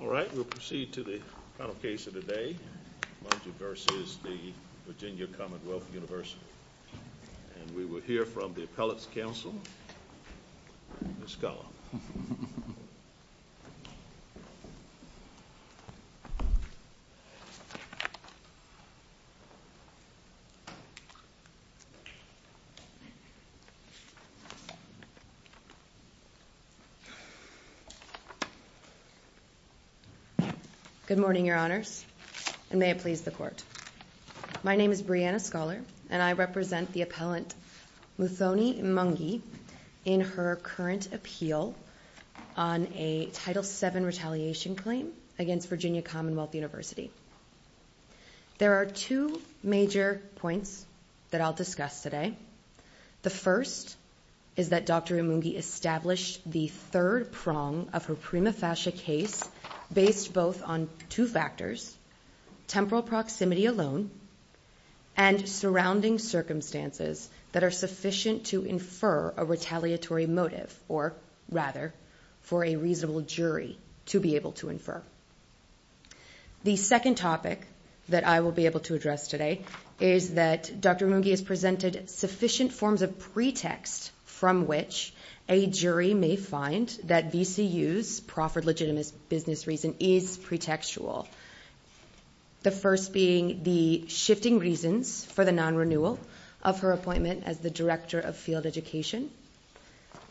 All right, we'll proceed to the final case of the day, Imungi v. VCU, and we will hear from the Appellate's Counsel, Ms. Cullen. Good morning, Your Honors, and may it please the Court. My name is Brianna Scholar, and I represent the Appellant Muthoni Imungi in her current appeal on a Title VII retaliation claim against Virginia Commonwealth University. There are two major points that I'll discuss today. The first is that Dr. Imungi established the third prong of her prima facie case based both on two factors, temporal proximity alone, and surrounding circumstances that are sufficient to infer a retaliatory motive, or rather, for a reasonable jury to be able to infer. The second topic that I will be able to address today is that Dr. Imungi has presented sufficient forms of pretext from which a jury may find that VCU's proffered legitimate business reason is pretextual. The first being the shifting reasons for the non-renewal of her appointment as the Director of Field Education.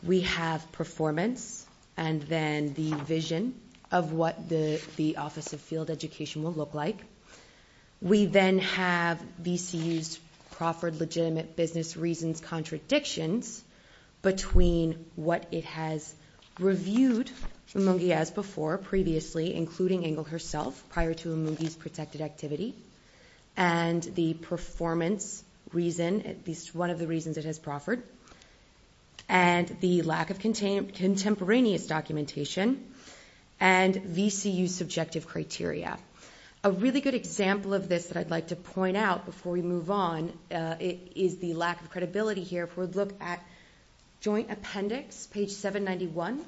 We have performance and then the vision of what the Office of Field Education will look like. We then have VCU's proffered legitimate business reasons contradictions between what it has reviewed Imungi as before previously, including Ingle herself, prior to Imungi's protected activity, and the performance reason, at least one of the reasons it has proffered, and the lack of contemporaneous documentation, and VCU's subjective criteria. A really good example of this that I'd like to point out before we move on is the lack of credibility here. If we look at Joint Appendix, page 791,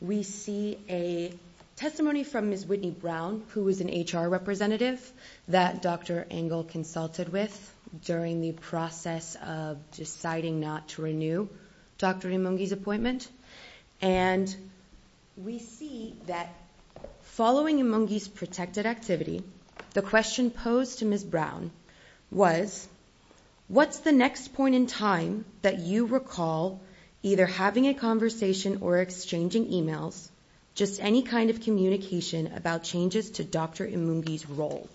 we see a testimony from Ms. Whitney Brown, who was an HR representative that Dr. Ingle consulted with during the process of deciding not to renew Dr. Imungi's appointment. We see that following Imungi's protected activity, the question posed to Ms. Brown was, What's the next point in time that you recall either having a conversation or exchanging emails, just any kind of communication about changes to Dr. Imungi's role,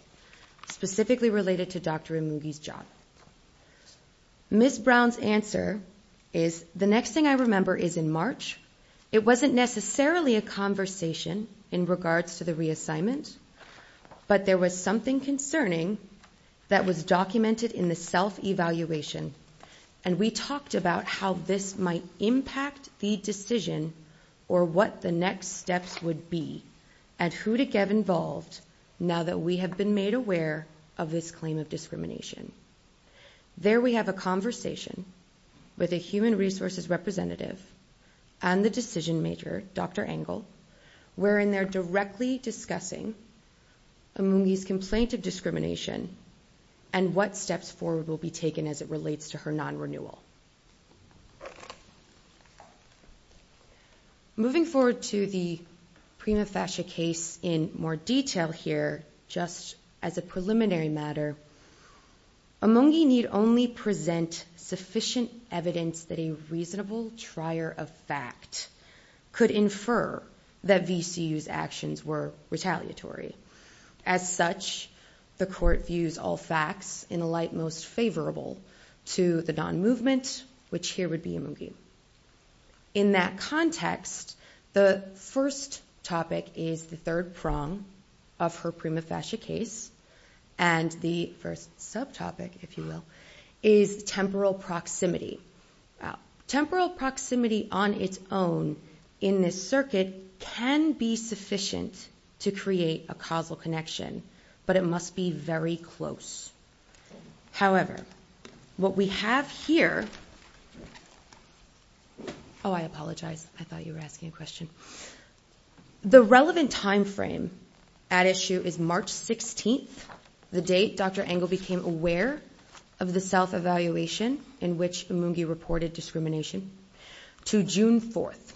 specifically related to Dr. Imungi's job? Ms. Brown's answer is, The next thing I remember is in March, it wasn't necessarily a conversation in regards to the reassignment, but there was something concerning that was documented in the self-evaluation, and we talked about how this might impact the decision, or what the next steps would be, and who to get involved now that we have been made aware of this claim of discrimination. There we have a conversation with a human resources representative and the decision-maker, Dr. Ingle, wherein they're directly discussing Imungi's complaint of discrimination and what steps forward will be taken as it relates to her non-renewal. Moving forward to the Prima Fascia case in more detail here, just as a preliminary matter, Imungi need only present sufficient evidence that a reasonable trier of fact could infer that VCU's actions were retaliatory. As such, the court views all facts in a light most favorable to the non-movement, which here would be Imungi. In that context, the first topic is the third prong of her Prima Fascia case, and the first subtopic, if you will, is temporal proximity. Temporal proximity on its own in this circuit can be sufficient to create a causal connection, but it must be very close. However, what we have here—oh, I apologize. I thought you were asking a question. The relevant timeframe at issue is March 16th, the date Dr. Ingle became aware of the self-evaluation in which Imungi reported discrimination, to June 4th.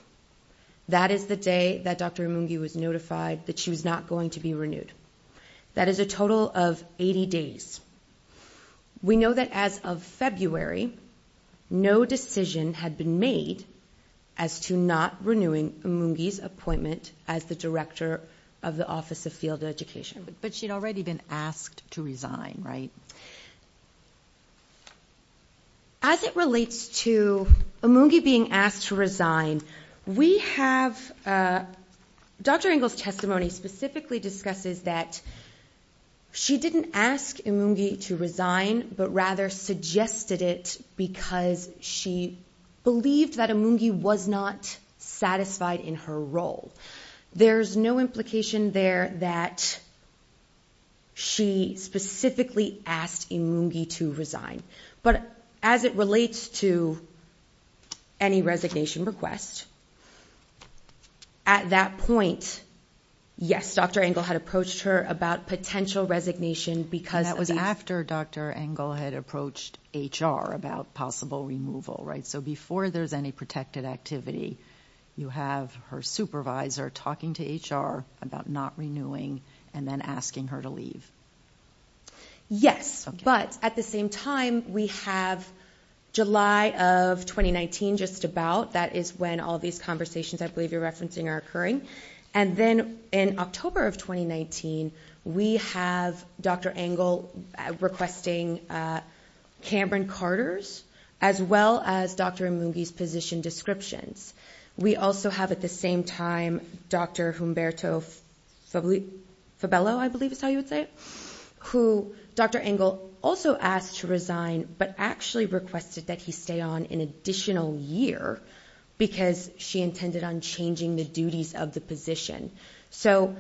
That is the day that Dr. Imungi was notified that she was not going to be renewed. That is a total of 80 days. We know that as of February, no decision had been made as to not renewing Imungi's appointment as the director of the Office of Field Education. But she'd already been asked to resign, right? As it relates to Imungi being asked to resign, we have—Dr. Ingle's testimony specifically discusses that she didn't ask Imungi to resign, but rather suggested it because she believed that Imungi was not satisfied in her role. There's no implication there that she specifically asked Imungi to resign. But as it relates to any resignation request, at that point, yes, Dr. Ingle had approached her about potential resignation because— That was after Dr. Ingle had approached HR about possible removal, right? So before there's any protected activity, you have her supervisor talking to HR about not renewing and then asking her to leave. Yes, but at the same time, we have July of 2019, just about. That is when all these conversations I believe you're referencing are occurring. And then in October of 2019, we have Dr. Ingle requesting Cameron Carter's as well as Dr. Imungi's position descriptions. We also have at the same time Dr. Humberto Fabello, I believe is how you would say it, who Dr. Ingle also asked to resign, but actually requested that he stay on an additional year because she intended on changing the duties of the position. So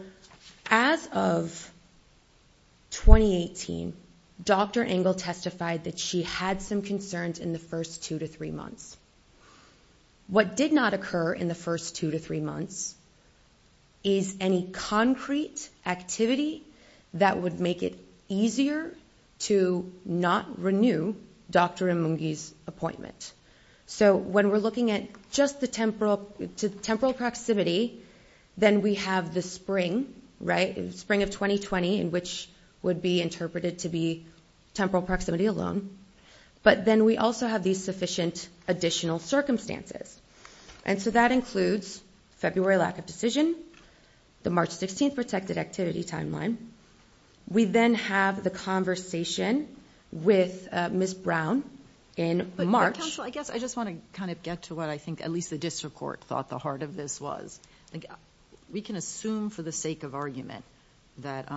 as of 2018, Dr. Ingle testified that she had some concerns in the first two to three months. What did not occur in the first two to three months is any concrete activity that would make it easier to not renew Dr. Imungi's appointment. So when we're looking at just the temporal proximity, then we have the spring, right, spring of 2020, in which would be interpreted to be temporal proximity alone. But then we also have these sufficient additional circumstances. And so that includes February lack of decision, the March 16th protected activity timeline. We then have the conversation with Ms. Brown in March. But counsel, I guess I just want to kind of get to what I think at least the district court thought the heart of this was. We can assume for the sake of argument that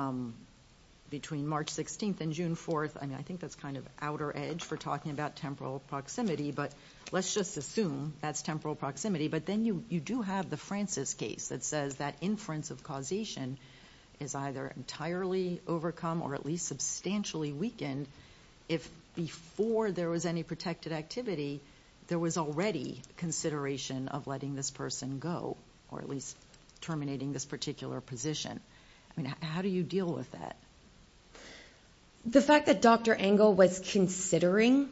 between March 16th and June 4th, I mean, I think that's kind of outer edge for talking about temporal proximity, but let's just assume that's temporal proximity. But then you do have the Francis case that says that inference of causation is either entirely overcome or at least substantially weakened. And if before there was any protected activity, there was already consideration of letting this person go, or at least terminating this particular position. I mean, how do you deal with that? The fact that Dr. Engel was considering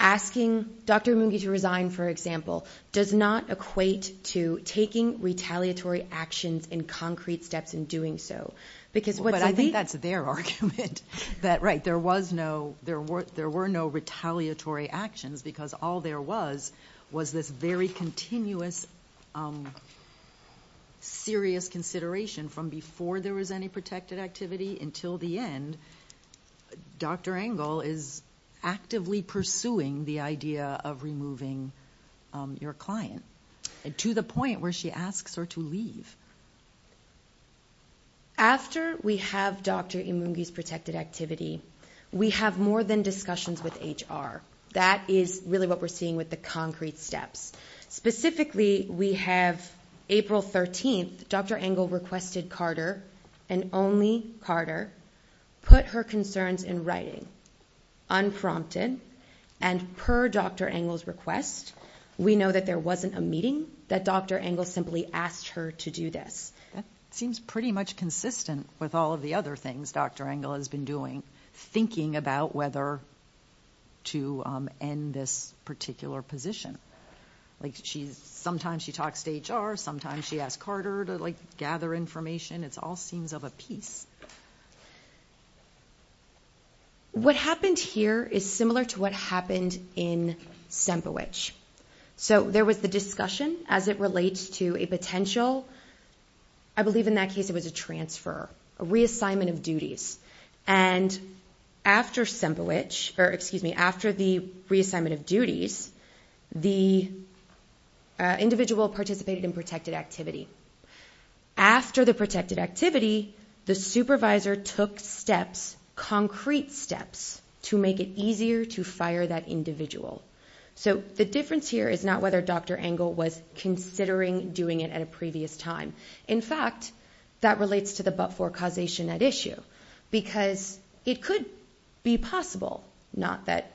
asking Dr. Imungi to resign, for example, does not equate to taking retaliatory actions in concrete steps in doing so. But I think that's their argument, that right, there were no retaliatory actions, because all there was was this very continuous serious consideration from before there was any protected activity until the end. Dr. Engel is actively pursuing the idea of removing your client to the point where she asks her to leave. After we have Dr. Imungi's protected activity, we have more than discussions with HR. That is really what we're seeing with the concrete steps. Specifically, we have April 13th, Dr. Engel requested Carter, and only Carter, put her concerns in writing, unprompted. And per Dr. Engel's request, we know that there wasn't a meeting, that Dr. Engel simply asked her to do this. That seems pretty much consistent with all of the other things Dr. Engel has been doing, thinking about whether to end this particular position. Sometimes she talks to HR, sometimes she asks Carter to gather information. It all seems of a piece. What happened here is similar to what happened in Sempowich. So there was the discussion as it relates to a potential, I believe in that case it was a transfer, a reassignment of duties. And after Sempowich, or excuse me, after the reassignment of duties, the individual participated in protected activity. After the protected activity, the supervisor took steps, concrete steps, to make it easier to fire that individual. So the difference here is not whether Dr. Engel was considering doing it at a previous time. In fact, that relates to the but-for causation at issue. Because it could be possible, not that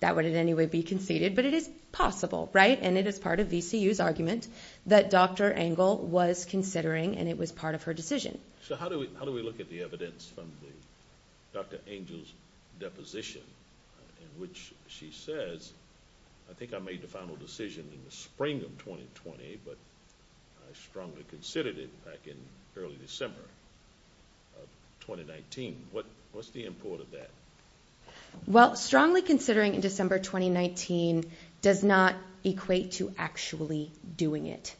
that would in any way be conceded, but it is possible, right? And it is part of VCU's argument that Dr. Engel was considering and it was part of her decision. So how do we look at the evidence from Dr. Engel's deposition in which she says, I think I made the final decision in the spring of 2020, but I strongly considered it back in early December of 2019. What's the import of that? Well, strongly considering in December 2019 does not equate to actually doing it.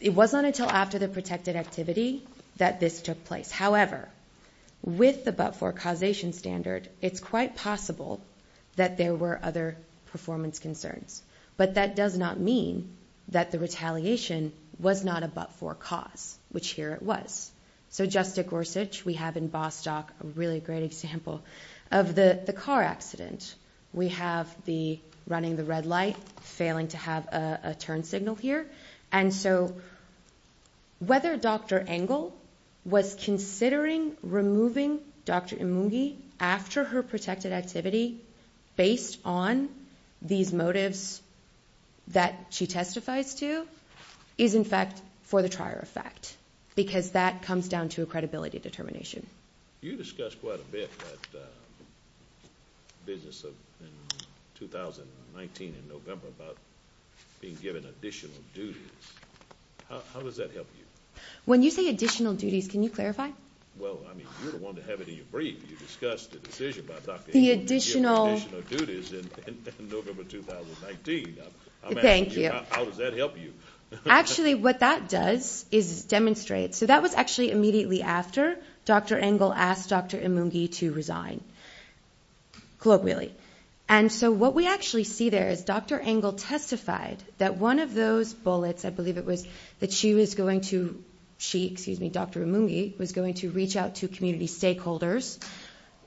It wasn't until after the protected activity that this took place. However, with the but-for causation standard, it's quite possible that there were other performance concerns. But that does not mean that the retaliation was not a but-for cause, which here it was. So just at Gorsuch, we have in Bostock a really great example of the car accident. We have the running the red light failing to have a turn signal here. And so whether Dr. Engel was considering removing Dr. Imungi after her protected activity based on these motives that she testifies to is, in fact, for the trier effect. Because that comes down to a credibility determination. You discussed quite a bit that business in 2019 in November about being given additional duties. How does that help you? When you say additional duties, can you clarify? Well, I mean, you're the one to have it in your brief. You discussed the decision about Dr. Engel being given additional duties in November 2019. Thank you. I'm asking you, how does that help you? Actually, what that does is demonstrate. So that was actually immediately after Dr. Engel asked Dr. Imungi to resign, colloquially. And so what we actually see there is Dr. Engel testified that one of those bullets, I believe it was that she was going to reach out to community stakeholders.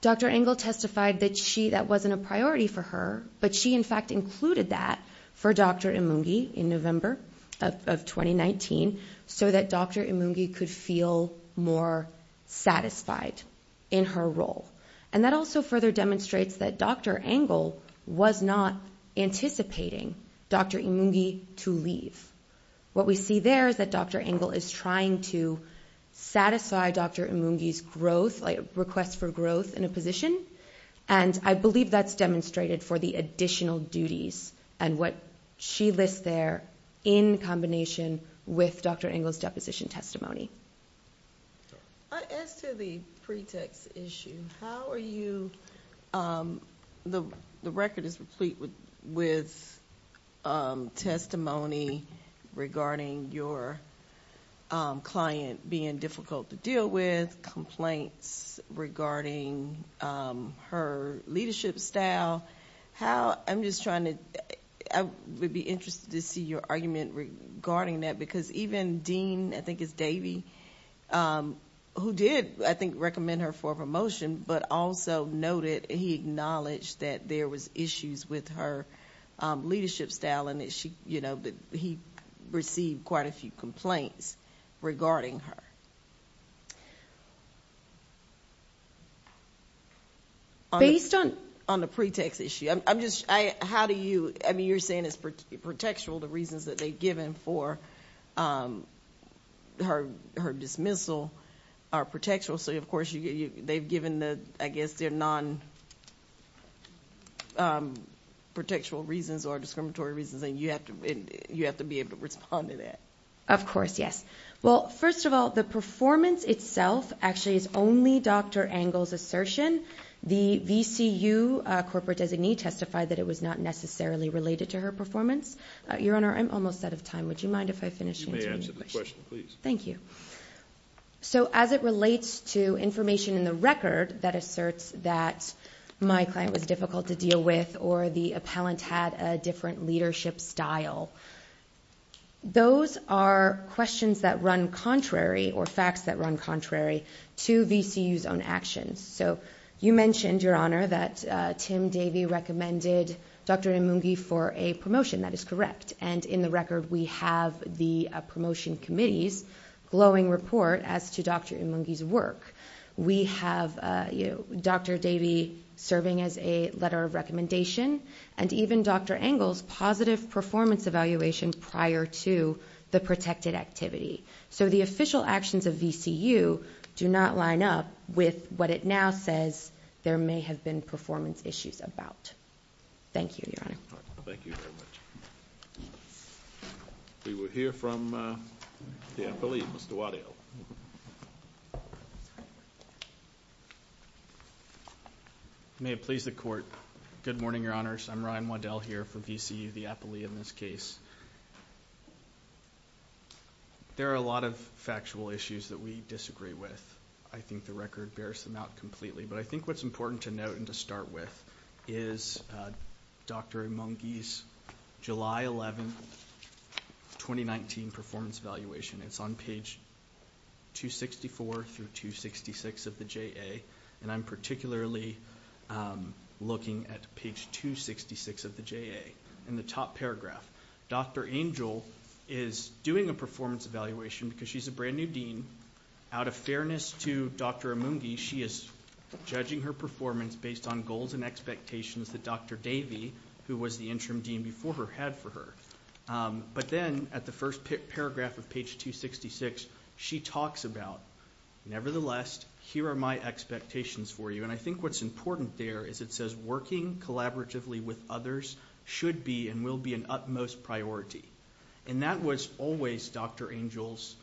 Dr. Engel testified that that wasn't a priority for her, but she, in fact, included that for Dr. Imungi in November of 2019 so that Dr. Imungi could feel more satisfied in her role. And that also further demonstrates that Dr. Engel was not anticipating Dr. Imungi to leave. What we see there is that Dr. Engel is trying to satisfy Dr. Imungi's request for growth in a position, and I believe that's demonstrated for the additional duties and what she lists there in combination with Dr. Engel's deposition testimony. As to the pretext issue, how are you— the record is complete with testimony regarding your client being difficult to deal with, with complaints regarding her leadership style. How—I'm just trying to—I would be interested to see your argument regarding that, because even Dean, I think it's Davey, who did, I think, recommend her for a promotion, but also noted he acknowledged that there was issues with her leadership style and that he received quite a few complaints regarding her. Based on the pretext issue, I'm just—how do you— I mean, you're saying it's protectural, the reasons that they've given for her dismissal are protectural, so of course they've given, I guess, their non-protectural reasons or discriminatory reasons, and you have to be able to respond to that. Of course, yes. Well, first of all, the performance itself actually is only Dr. Engel's assertion. The VCU corporate designee testified that it was not necessarily related to her performance. Your Honor, I'm almost out of time. Would you mind if I finish answering your question? You may answer the question, please. Thank you. So as it relates to information in the record that asserts that my client was difficult to deal with or the appellant had a different leadership style, those are questions that run contrary or facts that run contrary to VCU's own actions. So you mentioned, Your Honor, that Tim Davey recommended Dr. Emungi for a promotion. That is correct. And in the record we have the promotion committee's glowing report as to Dr. Emungi's work. We have Dr. Davey serving as a letter of recommendation and even Dr. Engel's positive performance evaluation prior to the protected activity. So the official actions of VCU do not line up with what it now says there may have been performance issues about. Thank you, Your Honor. Thank you very much. We will hear from the appellee, Mr. Waddell. May it please the Court. Good morning, Your Honors. I'm Ryan Waddell here for VCU, the appellee in this case. There are a lot of factual issues that we disagree with. I think the record bears them out completely. But I think what's important to note and to start with is Dr. Emungi's July 11, 2019, performance evaluation. It's on page 264 through 266 of the JA, and I'm particularly looking at page 266 of the JA. In the top paragraph, Dr. Engel is doing a performance evaluation because she's a brand-new dean. Out of fairness to Dr. Emungi, she is judging her performance based on goals and expectations that Dr. Davey, who was the interim dean before her, had for her. But then at the first paragraph of page 266, she talks about, nevertheless, here are my expectations for you. And I think what's important there is it says working collaboratively with others should be and will be an utmost priority. And that was always Dr. Engel's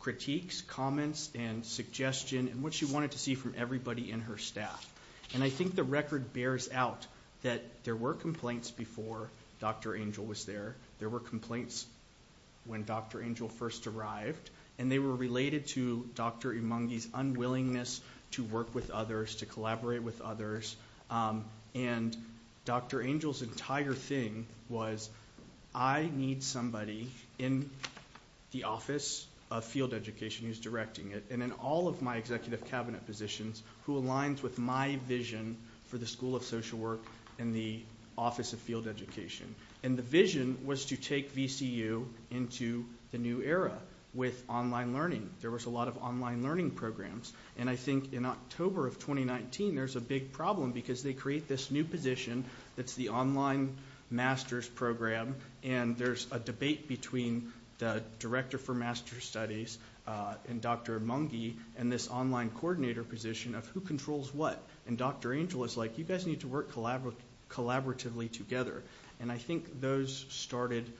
critiques, comments, and suggestion, and what she wanted to see from everybody in her staff. And I think the record bears out that there were complaints before Dr. Engel was there. There were complaints when Dr. Engel first arrived, and they were related to Dr. Emungi's unwillingness to work with others, to collaborate with others. And Dr. Engel's entire thing was I need somebody in the Office of Field Education who's directing it and in all of my executive cabinet positions who aligns with my vision for the School of Social Work and the Office of Field Education. And the vision was to take VCU into the new era with online learning. There was a lot of online learning programs. And I think in October of 2019, there's a big problem because they create this new position that's the online master's program. And there's a debate between the director for master's studies and Dr. Emungi and this online coordinator position of who controls what. And Dr. Engel is like, you guys need to work collaboratively together. And I think those started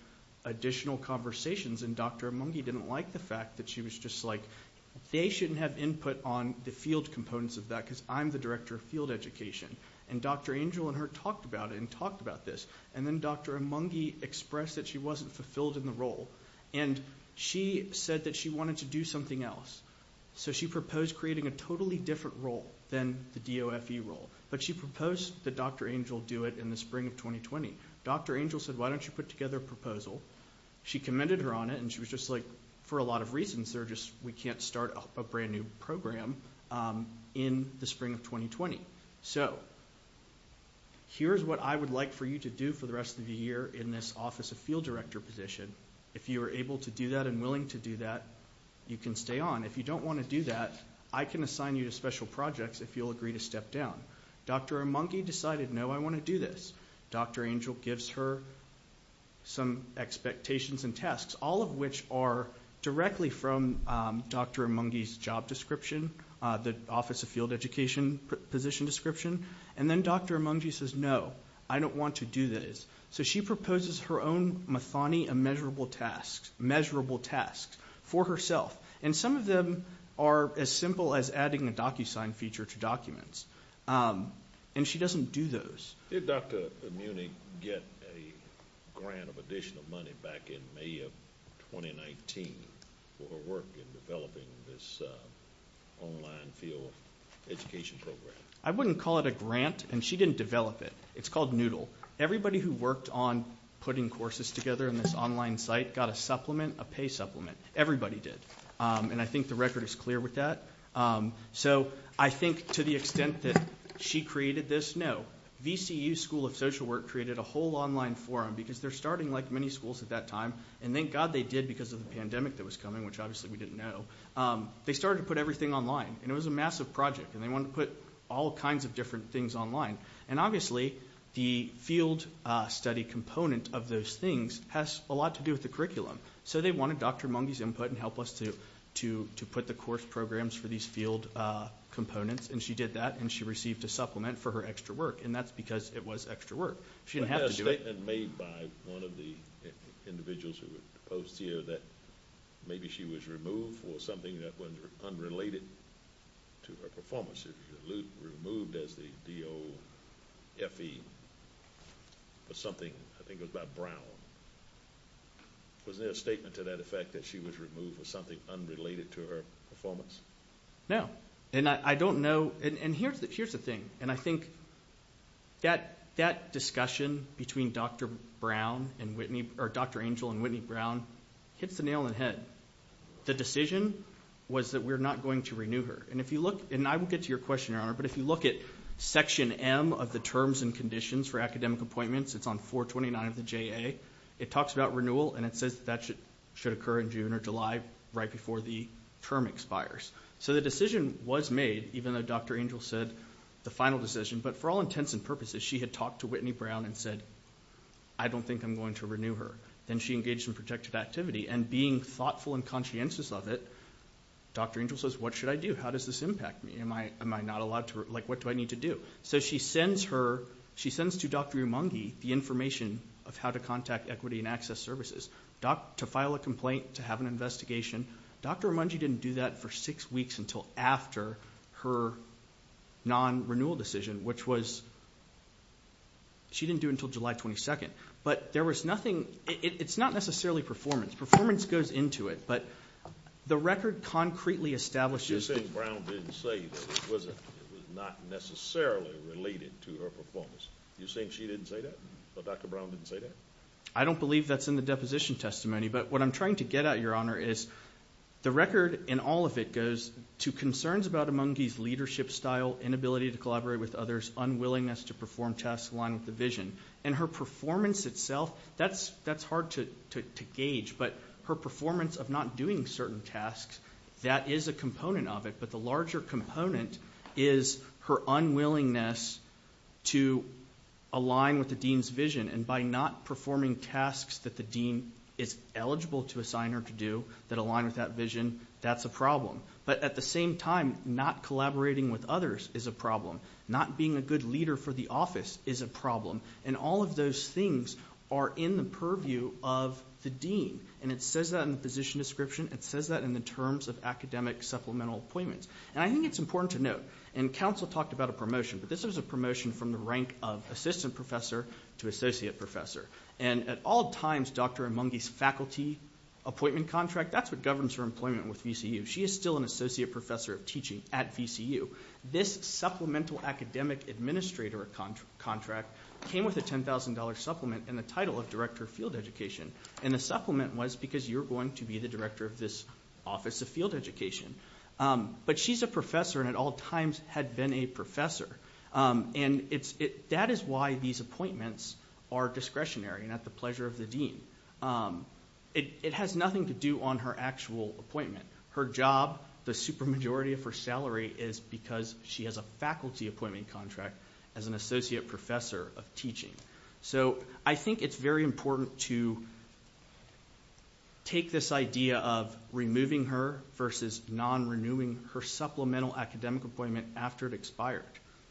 additional conversations. And Dr. Emungi didn't like the fact that she was just like, they shouldn't have input on the field components of that because I'm the director of field education. And Dr. Engel and her talked about it and talked about this. And then Dr. Emungi expressed that she wasn't fulfilled in the role. And she said that she wanted to do something else. So she proposed creating a totally different role than the DOFE role. But she proposed that Dr. Engel do it in the spring of 2020. Dr. Engel said, why don't you put together a proposal? She commended her on it and she was just like, for a lot of reasons, we can't start a brand new program in the spring of 2020. So here's what I would like for you to do for the rest of the year in this office of field director position. If you are able to do that and willing to do that, you can stay on. If you don't want to do that, I can assign you to special projects if you'll agree to step down. Dr. Emungi decided, no, I want to do this. Dr. Engel gives her some expectations and tasks, all of which are directly from Dr. Emungi's job description, the office of field education position description. And then Dr. Emungi says, no, I don't want to do this. So she proposes her own Mathani immeasurable tasks, measurable tasks for herself. And some of them are as simple as adding a DocuSign feature to documents. And she doesn't do those. Did Dr. Emungi get a grant of additional money back in May of 2019 for her work in developing this online field education program? I wouldn't call it a grant, and she didn't develop it. It's called Noodle. Everybody who worked on putting courses together in this online site got a supplement, a pay supplement. Everybody did. And I think the record is clear with that. So I think to the extent that she created this, no. VCU School of Social Work created a whole online forum because they're starting like many schools at that time. And thank God they did because of the pandemic that was coming, which obviously we didn't know. They started to put everything online. And it was a massive project, and they wanted to put all kinds of different things online. And obviously, the field study component of those things has a lot to do with the curriculum. So they wanted Dr. Emungi's input and help us to put the course programs for these field components. And she did that, and she received a supplement for her extra work. And that's because it was extra work. She didn't have to do it. There was a statement made by one of the individuals who were opposed to you that maybe she was removed for something that was unrelated to her performance. She was removed as the DOFE for something, I think it was by Brown. Was there a statement to that effect that she was removed for something unrelated to her performance? No. And I don't know. And here's the thing. And I think that discussion between Dr. Angel and Whitney Brown hits the nail on the head. The decision was that we're not going to renew her. And I will get to your question, Your Honor, but if you look at Section M of the Terms and Conditions for Academic Appointments, it's on 429 of the JA. It talks about renewal, and it says that that should occur in June or July right before the term expires. So the decision was made, even though Dr. Angel said the final decision. But for all intents and purposes, she had talked to Whitney Brown and said, I don't think I'm going to renew her. Then she engaged in protected activity, and being thoughtful and conscientious of it, Dr. Angel says, what should I do? How does this impact me? Am I not allowed to ‑‑ like, what do I need to do? So she sends to Dr. Emungi the information of how to contact Equity and Access Services to file a complaint, to have an investigation. Dr. Emungi didn't do that for six weeks until after her non‑renewal decision, which was ‑‑ she didn't do it until July 22nd. But there was nothing ‑‑ it's not necessarily performance. Performance goes into it, but the record concretely establishes ‑‑ You're saying Brown didn't say that. It was not necessarily related to her performance. You're saying she didn't say that? Dr. Brown didn't say that? I don't believe that's in the deposition testimony. But what I'm trying to get at, Your Honor, is the record in all of it goes to concerns about Emungi's leadership style, inability to collaborate with others, unwillingness to perform tasks aligned with the vision. And her performance itself, that's hard to gauge. But her performance of not doing certain tasks, that is a component of it. But the larger component is her unwillingness to align with the dean's vision. And by not performing tasks that the dean is eligible to assign her to do that align with that vision, that's a problem. But at the same time, not collaborating with others is a problem. Not being a good leader for the office is a problem. And all of those things are in the purview of the dean. And it says that in the position description. It says that in the terms of academic supplemental appointments. And I think it's important to note, and counsel talked about a promotion, but this was a promotion from the rank of assistant professor to associate professor. And at all times, Dr. Emungi's faculty appointment contract, that's what governs her employment with VCU. She is still an associate professor of teaching at VCU. This supplemental academic administrator contract came with a $10,000 supplement and the title of director of field education. And the supplement was because you're going to be the director of this office of field education. But she's a professor and at all times had been a professor. And that is why these appointments are discretionary and at the pleasure of the dean. It has nothing to do on her actual appointment. Her job, the super majority of her salary is because she has a faculty appointment contract as an associate professor of teaching. So I think it's very important to take this idea of removing her versus non-renewing her supplemental academic appointment after it expired.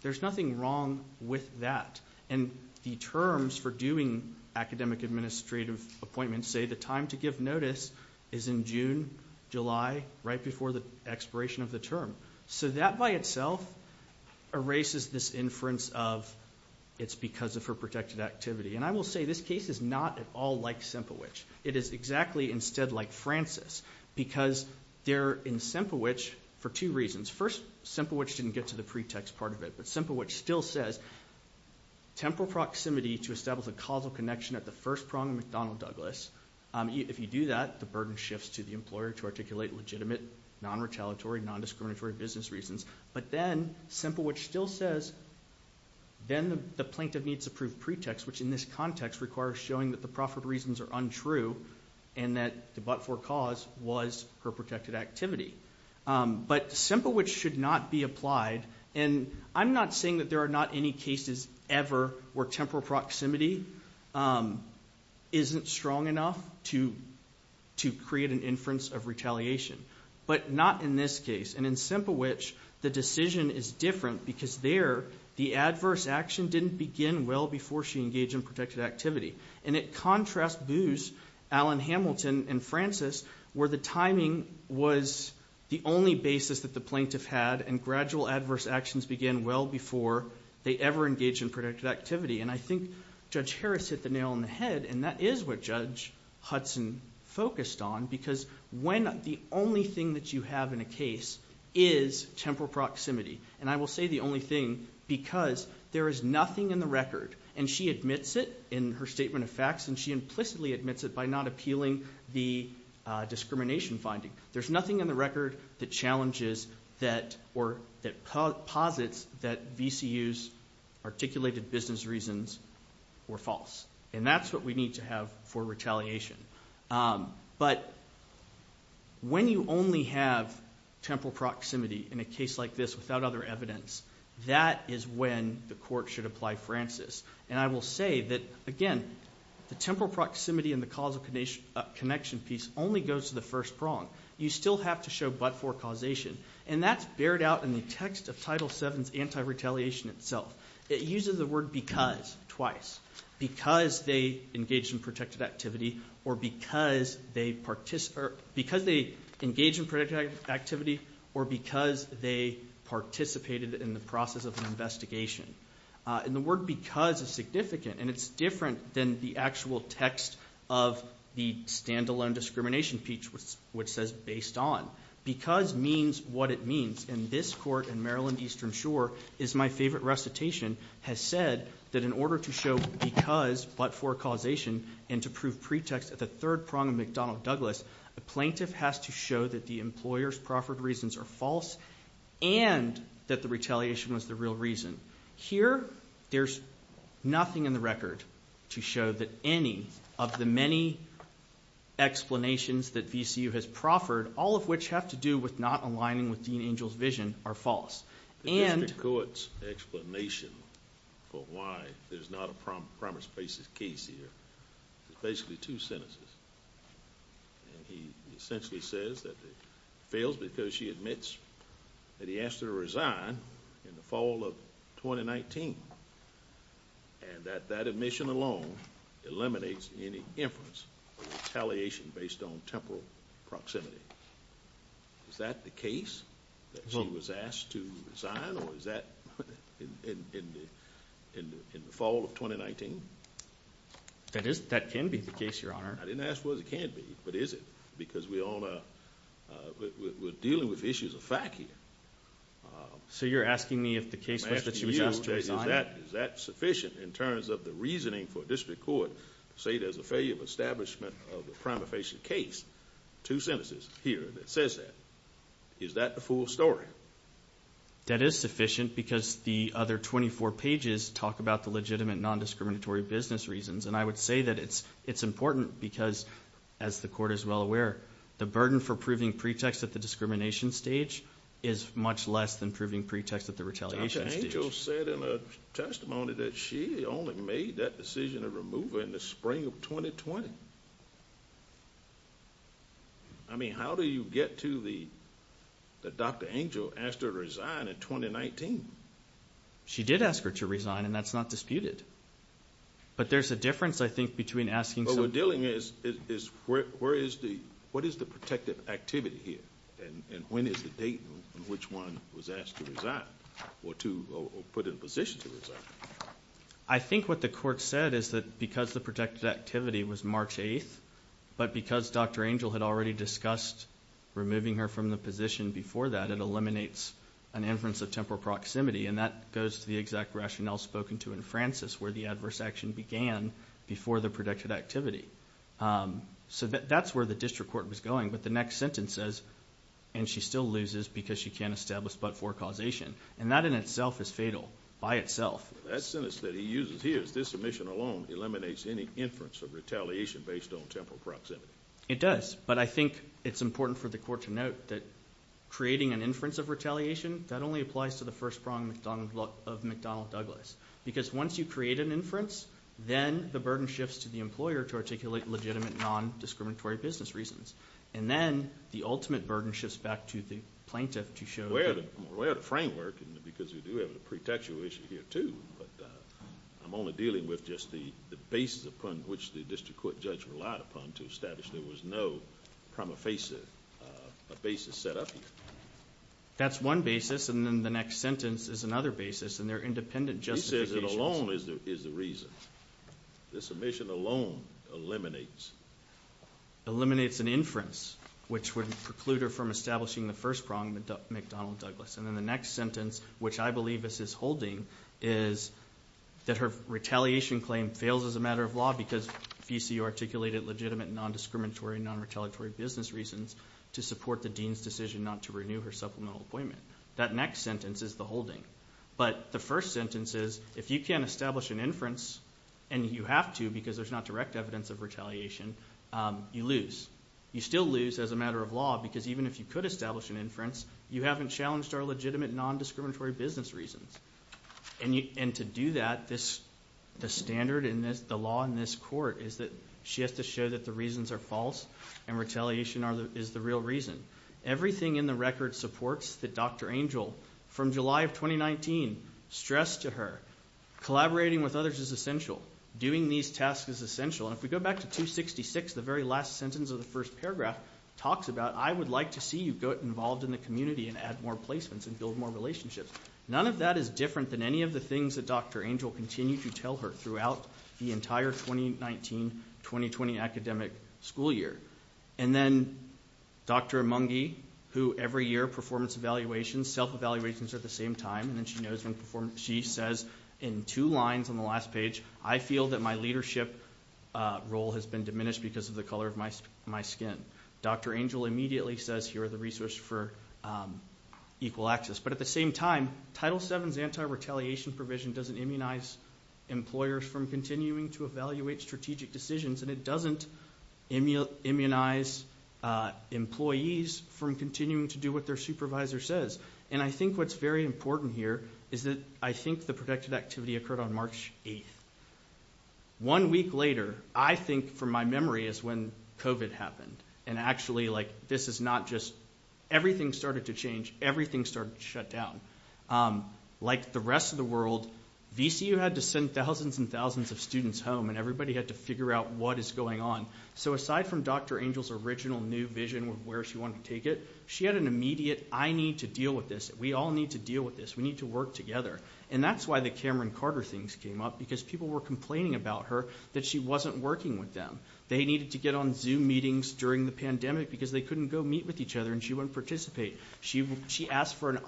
There's nothing wrong with that. And the terms for doing academic administrative appointments say the time to give notice is in June, July, right before the expiration of the term. So that by itself erases this inference of it's because of her protected activity. And I will say this case is not at all like Semplewich. It is exactly instead like Francis because they're in Semplewich for two reasons. First, Semplewich didn't get to the pretext part of it, but Semplewich still says temporal proximity to establish a causal connection at the first prong of McDonnell Douglas. If you do that, the burden shifts to the employer to articulate legitimate, non-retaliatory, non-discriminatory business reasons. But then Semplewich still says then the plaintiff needs to prove pretext, which in this context requires showing that the profit reasons are untrue and that the but-for cause was her protected activity. But Semplewich should not be applied. And I'm not saying that there are not any cases ever where temporal proximity isn't strong enough to create an inference of retaliation. But not in this case. And in Semplewich, the decision is different because there the adverse action didn't begin well before she engaged in protected activity. And it contrasts Booz, Alan Hamilton, and Francis where the timing was the only basis that the plaintiff had and gradual adverse actions began well before they ever engaged in protected activity. And I think Judge Harris hit the nail on the head and that is what Judge Hudson focused on because when the only thing that you have in a case is temporal proximity. And I will say the only thing because there is nothing in the record. And she admits it in her statement of facts and she implicitly admits it by not appealing the discrimination finding. There's nothing in the record that challenges that or that posits that VCU's articulated business reasons were false. And that's what we need to have for retaliation. But when you only have temporal proximity in a case like this without other evidence, that is when the court should apply Francis. And I will say that, again, the temporal proximity and the causal connection piece only goes to the first prong. You still have to show but-for causation. And that's bared out in the text of Title VII's anti-retaliation itself. It uses the word because twice. Because they engaged in protected activity or because they participated in the process of an investigation. And the word because is significant and it's different than the actual text of the standalone discrimination piece which says based on. Because means what it means. And this court in Maryland Eastern Shore is my favorite recitation, has said that in order to show because but-for causation and to prove pretext at the third prong of McDonnell Douglas, a plaintiff has to show that the employer's proffered reasons are false and that the retaliation was the real reason. Here, there's nothing in the record to show that any of the many explanations that VCU has proffered, all of which have to do with not aligning with Dean Angel's vision, are false. And- The district court's explanation for why there's not a promise basis case here is basically two sentences. And he essentially says that it fails because she admits that he asked her to resign in the fall of 2019. And that that admission alone eliminates any inference of retaliation based on temporal proximity. Is that the case? That she was asked to resign or is that in the fall of 2019? That can be the case, Your Honor. I didn't ask what it can be, but is it? Because we're dealing with issues of fact here. So you're asking me if the case was that she was asked to resign? Is that sufficient in terms of the reasoning for a district court to say there's a failure of establishment of a prima facie case? Two sentences here that says that. Is that the full story? That is sufficient because the other 24 pages talk about the legitimate non-discriminatory business reasons. And I would say that it's important because, as the court is well aware, the burden for proving pretext at the discrimination stage is much less than proving pretext at the retaliation stage. Dr. Angel said in a testimony that she only made that decision to remove her in the spring of 2020. I mean, how do you get to the Dr. Angel asked her to resign in 2019? She did ask her to resign, and that's not disputed. But there's a difference, I think, between asking someone to resign. But what we're dealing with is what is the protective activity here, and when is the date on which one was asked to resign or put in a position to resign? I think what the court said is that because the protective activity was March 8th, but because Dr. Angel had already discussed removing her from the position before that, it eliminates an inference of temporal proximity, and that goes to the exact rationale spoken to in Francis where the adverse action began before the protective activity. So that's where the district court was going. But the next sentence says, and she still loses because she can't establish but-for causation. And that in itself is fatal by itself. That sentence that he uses here, this submission alone, eliminates any inference of retaliation based on temporal proximity. It does, but I think it's important for the court to note that creating an inference of retaliation, that only applies to the first prong of McDonnell Douglas. Because once you create an inference, then the burden shifts to the employer to articulate legitimate non-discriminatory business reasons. And then the ultimate burden shifts back to the plaintiff to show that- We're aware of the framework because we do have a pretextual issue here too, but I'm only dealing with just the basis upon which the district court judge relied upon to establish there was no prima facie basis set up here. That's one basis, and then the next sentence is another basis, and they're independent justifications. He says it alone is the reason. The submission alone eliminates. Eliminates an inference, which would preclude her from establishing the first prong of McDonnell Douglas. And then the next sentence, which I believe this is holding, is that her retaliation claim fails as a matter of law because VC articulated legitimate non-discriminatory and non-retaliatory business reasons to support the dean's decision not to renew her supplemental appointment. That next sentence is the holding. But the first sentence is, if you can't establish an inference, and you have to because there's not direct evidence of retaliation, you lose. You still lose as a matter of law because even if you could establish an inference, you haven't challenged our legitimate non-discriminatory business reasons. And to do that, the standard and the law in this court is that she has to show that the reasons are false and retaliation is the real reason. Everything in the record supports that Dr. Angel, from July of 2019, stressed to her, collaborating with others is essential, doing these tasks is essential. And if we go back to 266, the very last sentence of the first paragraph talks about, I would like to see you get involved in the community and add more placements and build more relationships. None of that is different than any of the things that Dr. Angel continued to tell her throughout the entire 2019-2020 academic school year. And then Dr. Emungi, who every year, performance evaluations, self-evaluations at the same time, and then she says in two lines on the last page, I feel that my leadership role has been diminished because of the color of my skin. Dr. Angel immediately says, here are the resources for equal access. But at the same time, Title VII's anti-retaliation provision doesn't immunize employers from continuing to evaluate strategic decisions, and it doesn't immunize employees from continuing to do what their supervisor says. And I think what's very important here is that I think the protective activity occurred on March 8th. One week later, I think from my memory, is when COVID happened. And actually, this is not just, everything started to change. Everything started to shut down. Like the rest of the world, VCU had to send thousands and thousands of students home, and everybody had to figure out what is going on. So aside from Dr. Angel's original new vision of where she wanted to take it, she had an immediate, I need to deal with this. We all need to deal with this. We need to work together. And that's why the Cameron Carter things came up, because people were complaining about her that she wasn't working with them. They needed to get on Zoom meetings during the pandemic, because they couldn't go meet with each other, and she wouldn't participate. She asked for an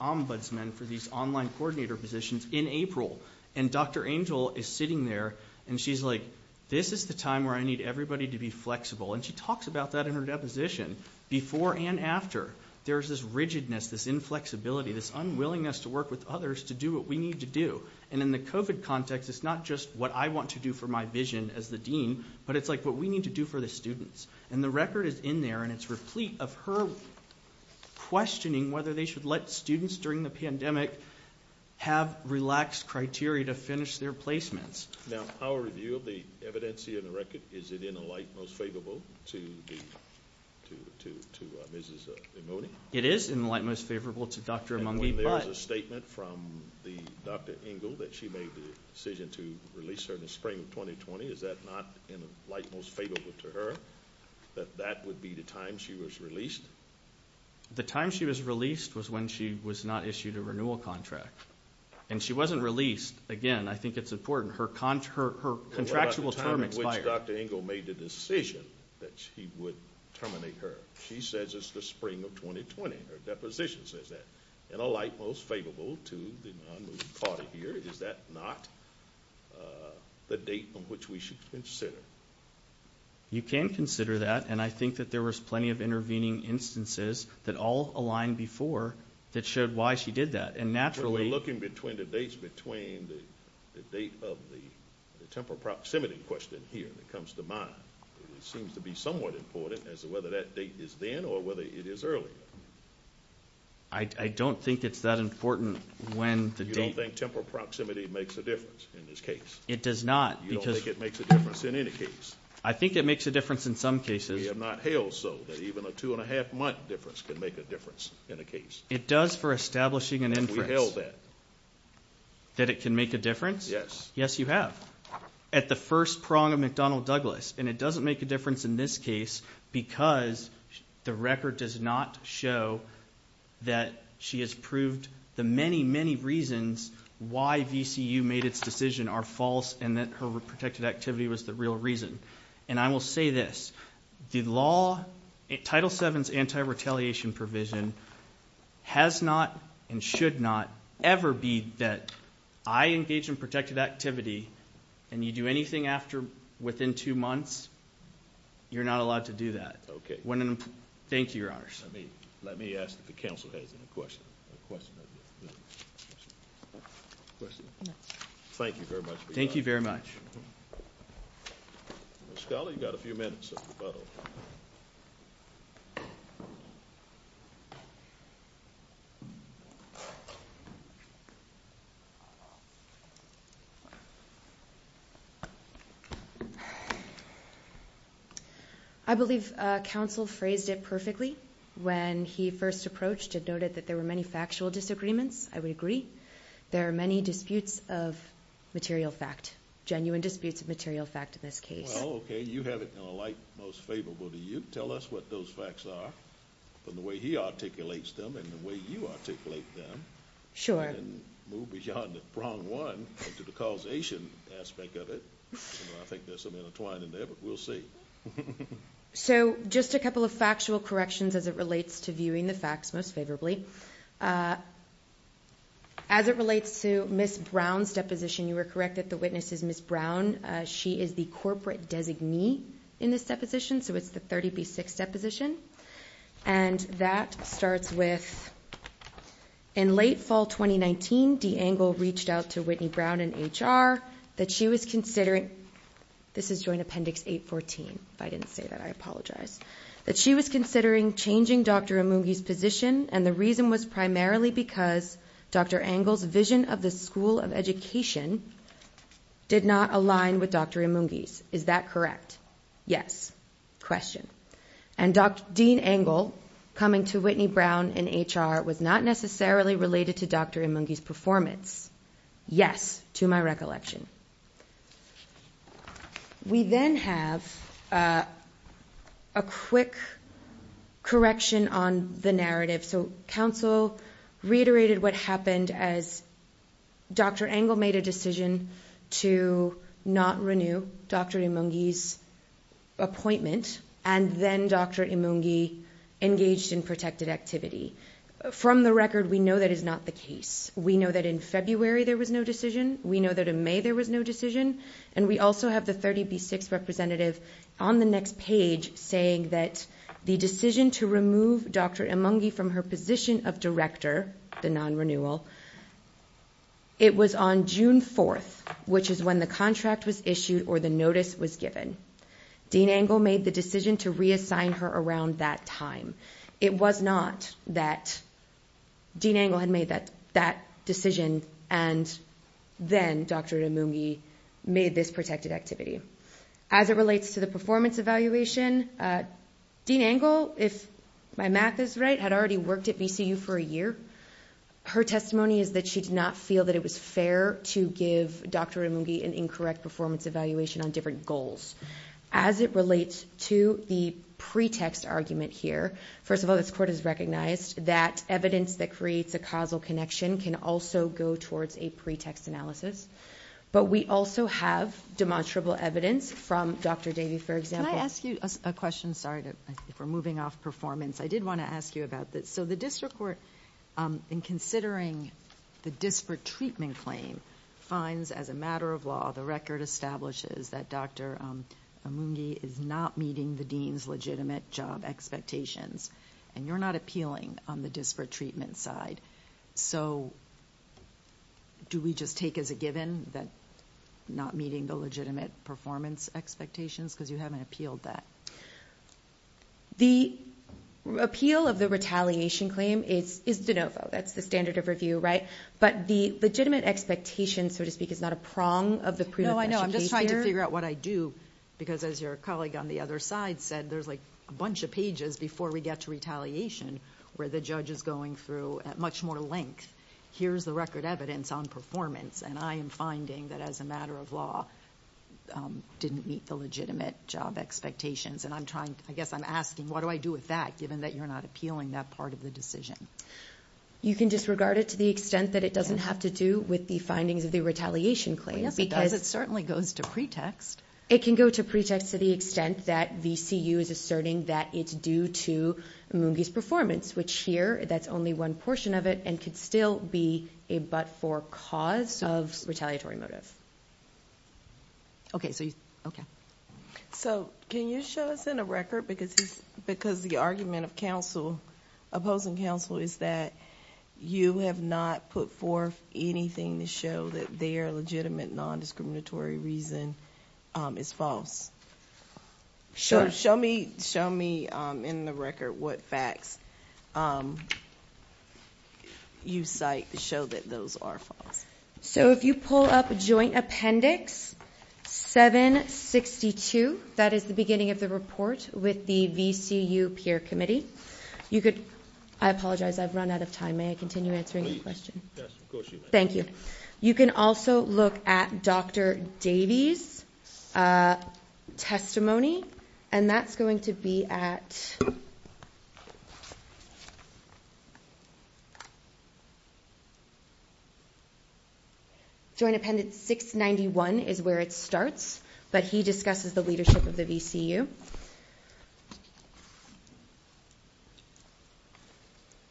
ombudsman for these online coordinator positions in April. And Dr. Angel is sitting there, and she's like, this is the time where I need everybody to be flexible. And she talks about that in her deposition. Before and after, there's this rigidness, this inflexibility, this unwillingness to work with others to do what we need to do. And in the COVID context, it's not just what I want to do for my vision as the dean, but it's like what we need to do for the students. And the record is in there, and it's replete of her questioning whether they should let students during the pandemic have relaxed criteria to finish their placements. Now, our review of the evidence here in the record, is it in a light most favorable to Mrs. Imoni? It is in a light most favorable to Dr. Imoni. And when there was a statement from Dr. Angel that she made the decision to release her in the spring of 2020, is that not in a light most favorable to her, that that would be the time she was released? The time she was released was when she was not issued a renewal contract. And she wasn't released, again, I think it's important, her contractual term expired. What about the time in which Dr. Angel made the decision that she would terminate her? She says it's the spring of 2020. Her deposition says that. In a light most favorable to the non-moving party here, is that not the date on which we should consider? You can consider that, and I think that there was plenty of intervening instances that all aligned before that showed why she did that. We're looking between the dates, between the date of the temporal proximity question here that comes to mind. It seems to be somewhat important as to whether that date is then or whether it is earlier. I don't think it's that important when the date. You don't think temporal proximity makes a difference in this case? It does not. You don't think it makes a difference in any case? I think it makes a difference in some cases. We have not held so that even a two-and-a-half-month difference can make a difference in a case. It does for establishing an inference. We held that. That it can make a difference? Yes. Yes, you have. At the first prong of McDonnell Douglas, and it doesn't make a difference in this case because the record does not show that she has proved the many, many reasons why VCU made its decision are false and that her protected activity was the real reason. I will say this. The law, Title VII's anti-retaliation provision, has not and should not ever be that I engage in protected activity and you do anything after within two months, you're not allowed to do that. Thank you, Your Honors. Let me ask if the counsel has any questions. Thank you very much for your time. Thank you very much. Ms. Scully, you've got a few minutes. I believe counsel phrased it perfectly when he first approached it, noted that there were many factual disagreements. I would agree. There are many disputes of material fact, genuine disputes of material fact in this case. Well, okay, you have it in a light most favorable to you. Tell us what those facts are from the way he articulates them and the way you articulate them. Sure. And move beyond the prong one into the causation aspect of it. I think there's something entwined in there, but we'll see. So just a couple of factual corrections as it relates to viewing the facts most favorably. As it relates to Ms. Brown's deposition, you were correct that the witness is Ms. Brown. She is the corporate designee in this deposition, so it's the 30B6 deposition. And that starts with, in late fall 2019, DeAngle reached out to Whitney Brown in HR that she was considering... This is Joint Appendix 814. If I didn't say that, I apologize. ...that she was considering changing Dr. Imungi's position, and the reason was primarily because Dr. DeAngle's vision of the School of Education did not align with Dr. Imungi's. Is that correct? Yes. Question. And Dean DeAngle coming to Whitney Brown in HR was not necessarily related to Dr. Imungi's performance. Yes, to my recollection. We then have a quick correction on the narrative. So counsel reiterated what happened as Dr. DeAngle made a decision to not renew Dr. Imungi's appointment, and then Dr. Imungi engaged in protected activity. From the record, we know that is not the case. We know that in February there was no decision. We know that in May there was no decision. And we also have the 30B6 representative on the next page saying that the decision to remove Dr. Imungi from her position of director, the non-renewal, it was on June 4th, which is when the contract was issued or the notice was given. Dean Angle made the decision to reassign her around that time. It was not that Dean Angle had made that decision and then Dr. Imungi made this protected activity. As it relates to the performance evaluation, Dean Angle, if my math is right, had already worked at VCU for a year. Her testimony is that she did not feel that it was fair to give Dr. Imungi an incorrect performance evaluation on different goals. As it relates to the pretext argument here, first of all, this Court has recognized that evidence that creates a causal connection can also go towards a pretext analysis. But we also have demonstrable evidence from Dr. Davey, for example. Can I ask you a question? Sorry, if we're moving off performance. I did want to ask you about this. So the district court, in considering the disparate treatment claim, finds, as a matter of law, the record establishes that Dr. Imungi is not meeting the dean's legitimate job expectations, and you're not appealing on the disparate treatment side. So do we just take as a given that you're not meeting the legitimate performance expectations because you haven't appealed that? The appeal of the retaliation claim is de novo. That's the standard of review, right? But the legitimate expectation, so to speak, is not a prong of the prudent question case here. No, I'm just trying to figure out what I do, because as your colleague on the other side said, there's a bunch of pages before we get to retaliation where the judge is going through at much more length, here's the record evidence on performance, and I am finding that, as a matter of law, didn't meet the legitimate job expectations. And I guess I'm asking, what do I do with that, given that you're not appealing that part of the decision? You can disregard it to the extent that it doesn't have to do with the findings of the retaliation claim. Yes, because it certainly goes to pretext. It can go to pretext to the extent that the CU is asserting that it's due to Mungi's performance, which here, that's only one portion of it, and could still be a but-for cause of retaliatory motive. Okay. So can you show us in a record, because the argument of opposing counsel is that you have not put forth anything to show that their legitimate nondiscriminatory reason is false? Sure. Show me in the record what facts you cite to show that those are false. So if you pull up Joint Appendix 762, that is the beginning of the report with the VCU Peer Committee, I apologize, I've run out of time. May I continue answering your question? Yes, of course you may. Thank you. You can also look at Dr. Davies' testimony, and that's going to be at... Joint Appendix 691 is where it starts, but he discusses the leadership of the VCU.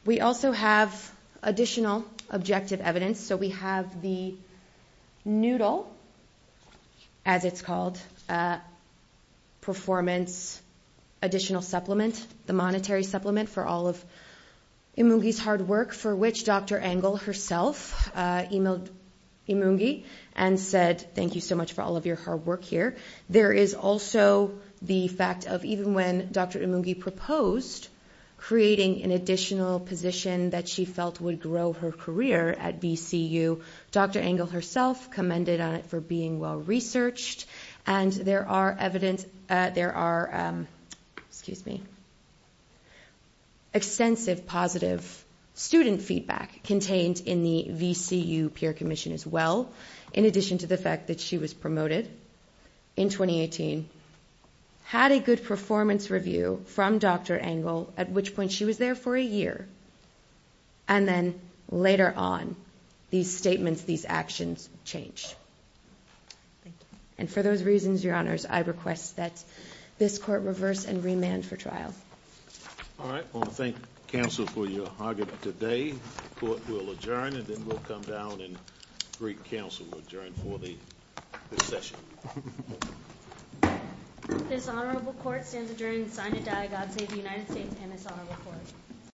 We also have additional objective evidence. So we have the noodle, as it's called, performance additional supplement, the monetary supplement for all of Emungi's hard work, for which Dr. Engel herself emailed Emungi and said thank you so much for all of your hard work here. There is also the fact of even when Dr. Emungi proposed creating an additional position that she felt would grow her career at VCU, Dr. Engel herself commended on it for being well-researched, and there are extensive positive student feedback contained in the VCU Peer Commission as well, in addition to the fact that she was promoted. In 2018, had a good performance review from Dr. Engel, at which point she was there for a year, and then later on these statements, these actions changed. Thank you. And for those reasons, Your Honors, I request that this court reverse and remand for trial. All right. I want to thank counsel for your argument today. The court will adjourn, and then we'll come down and then Greek counsel will adjourn for the session. This honorable court stands adjourned and sign a diagos of the United States and this honorable court.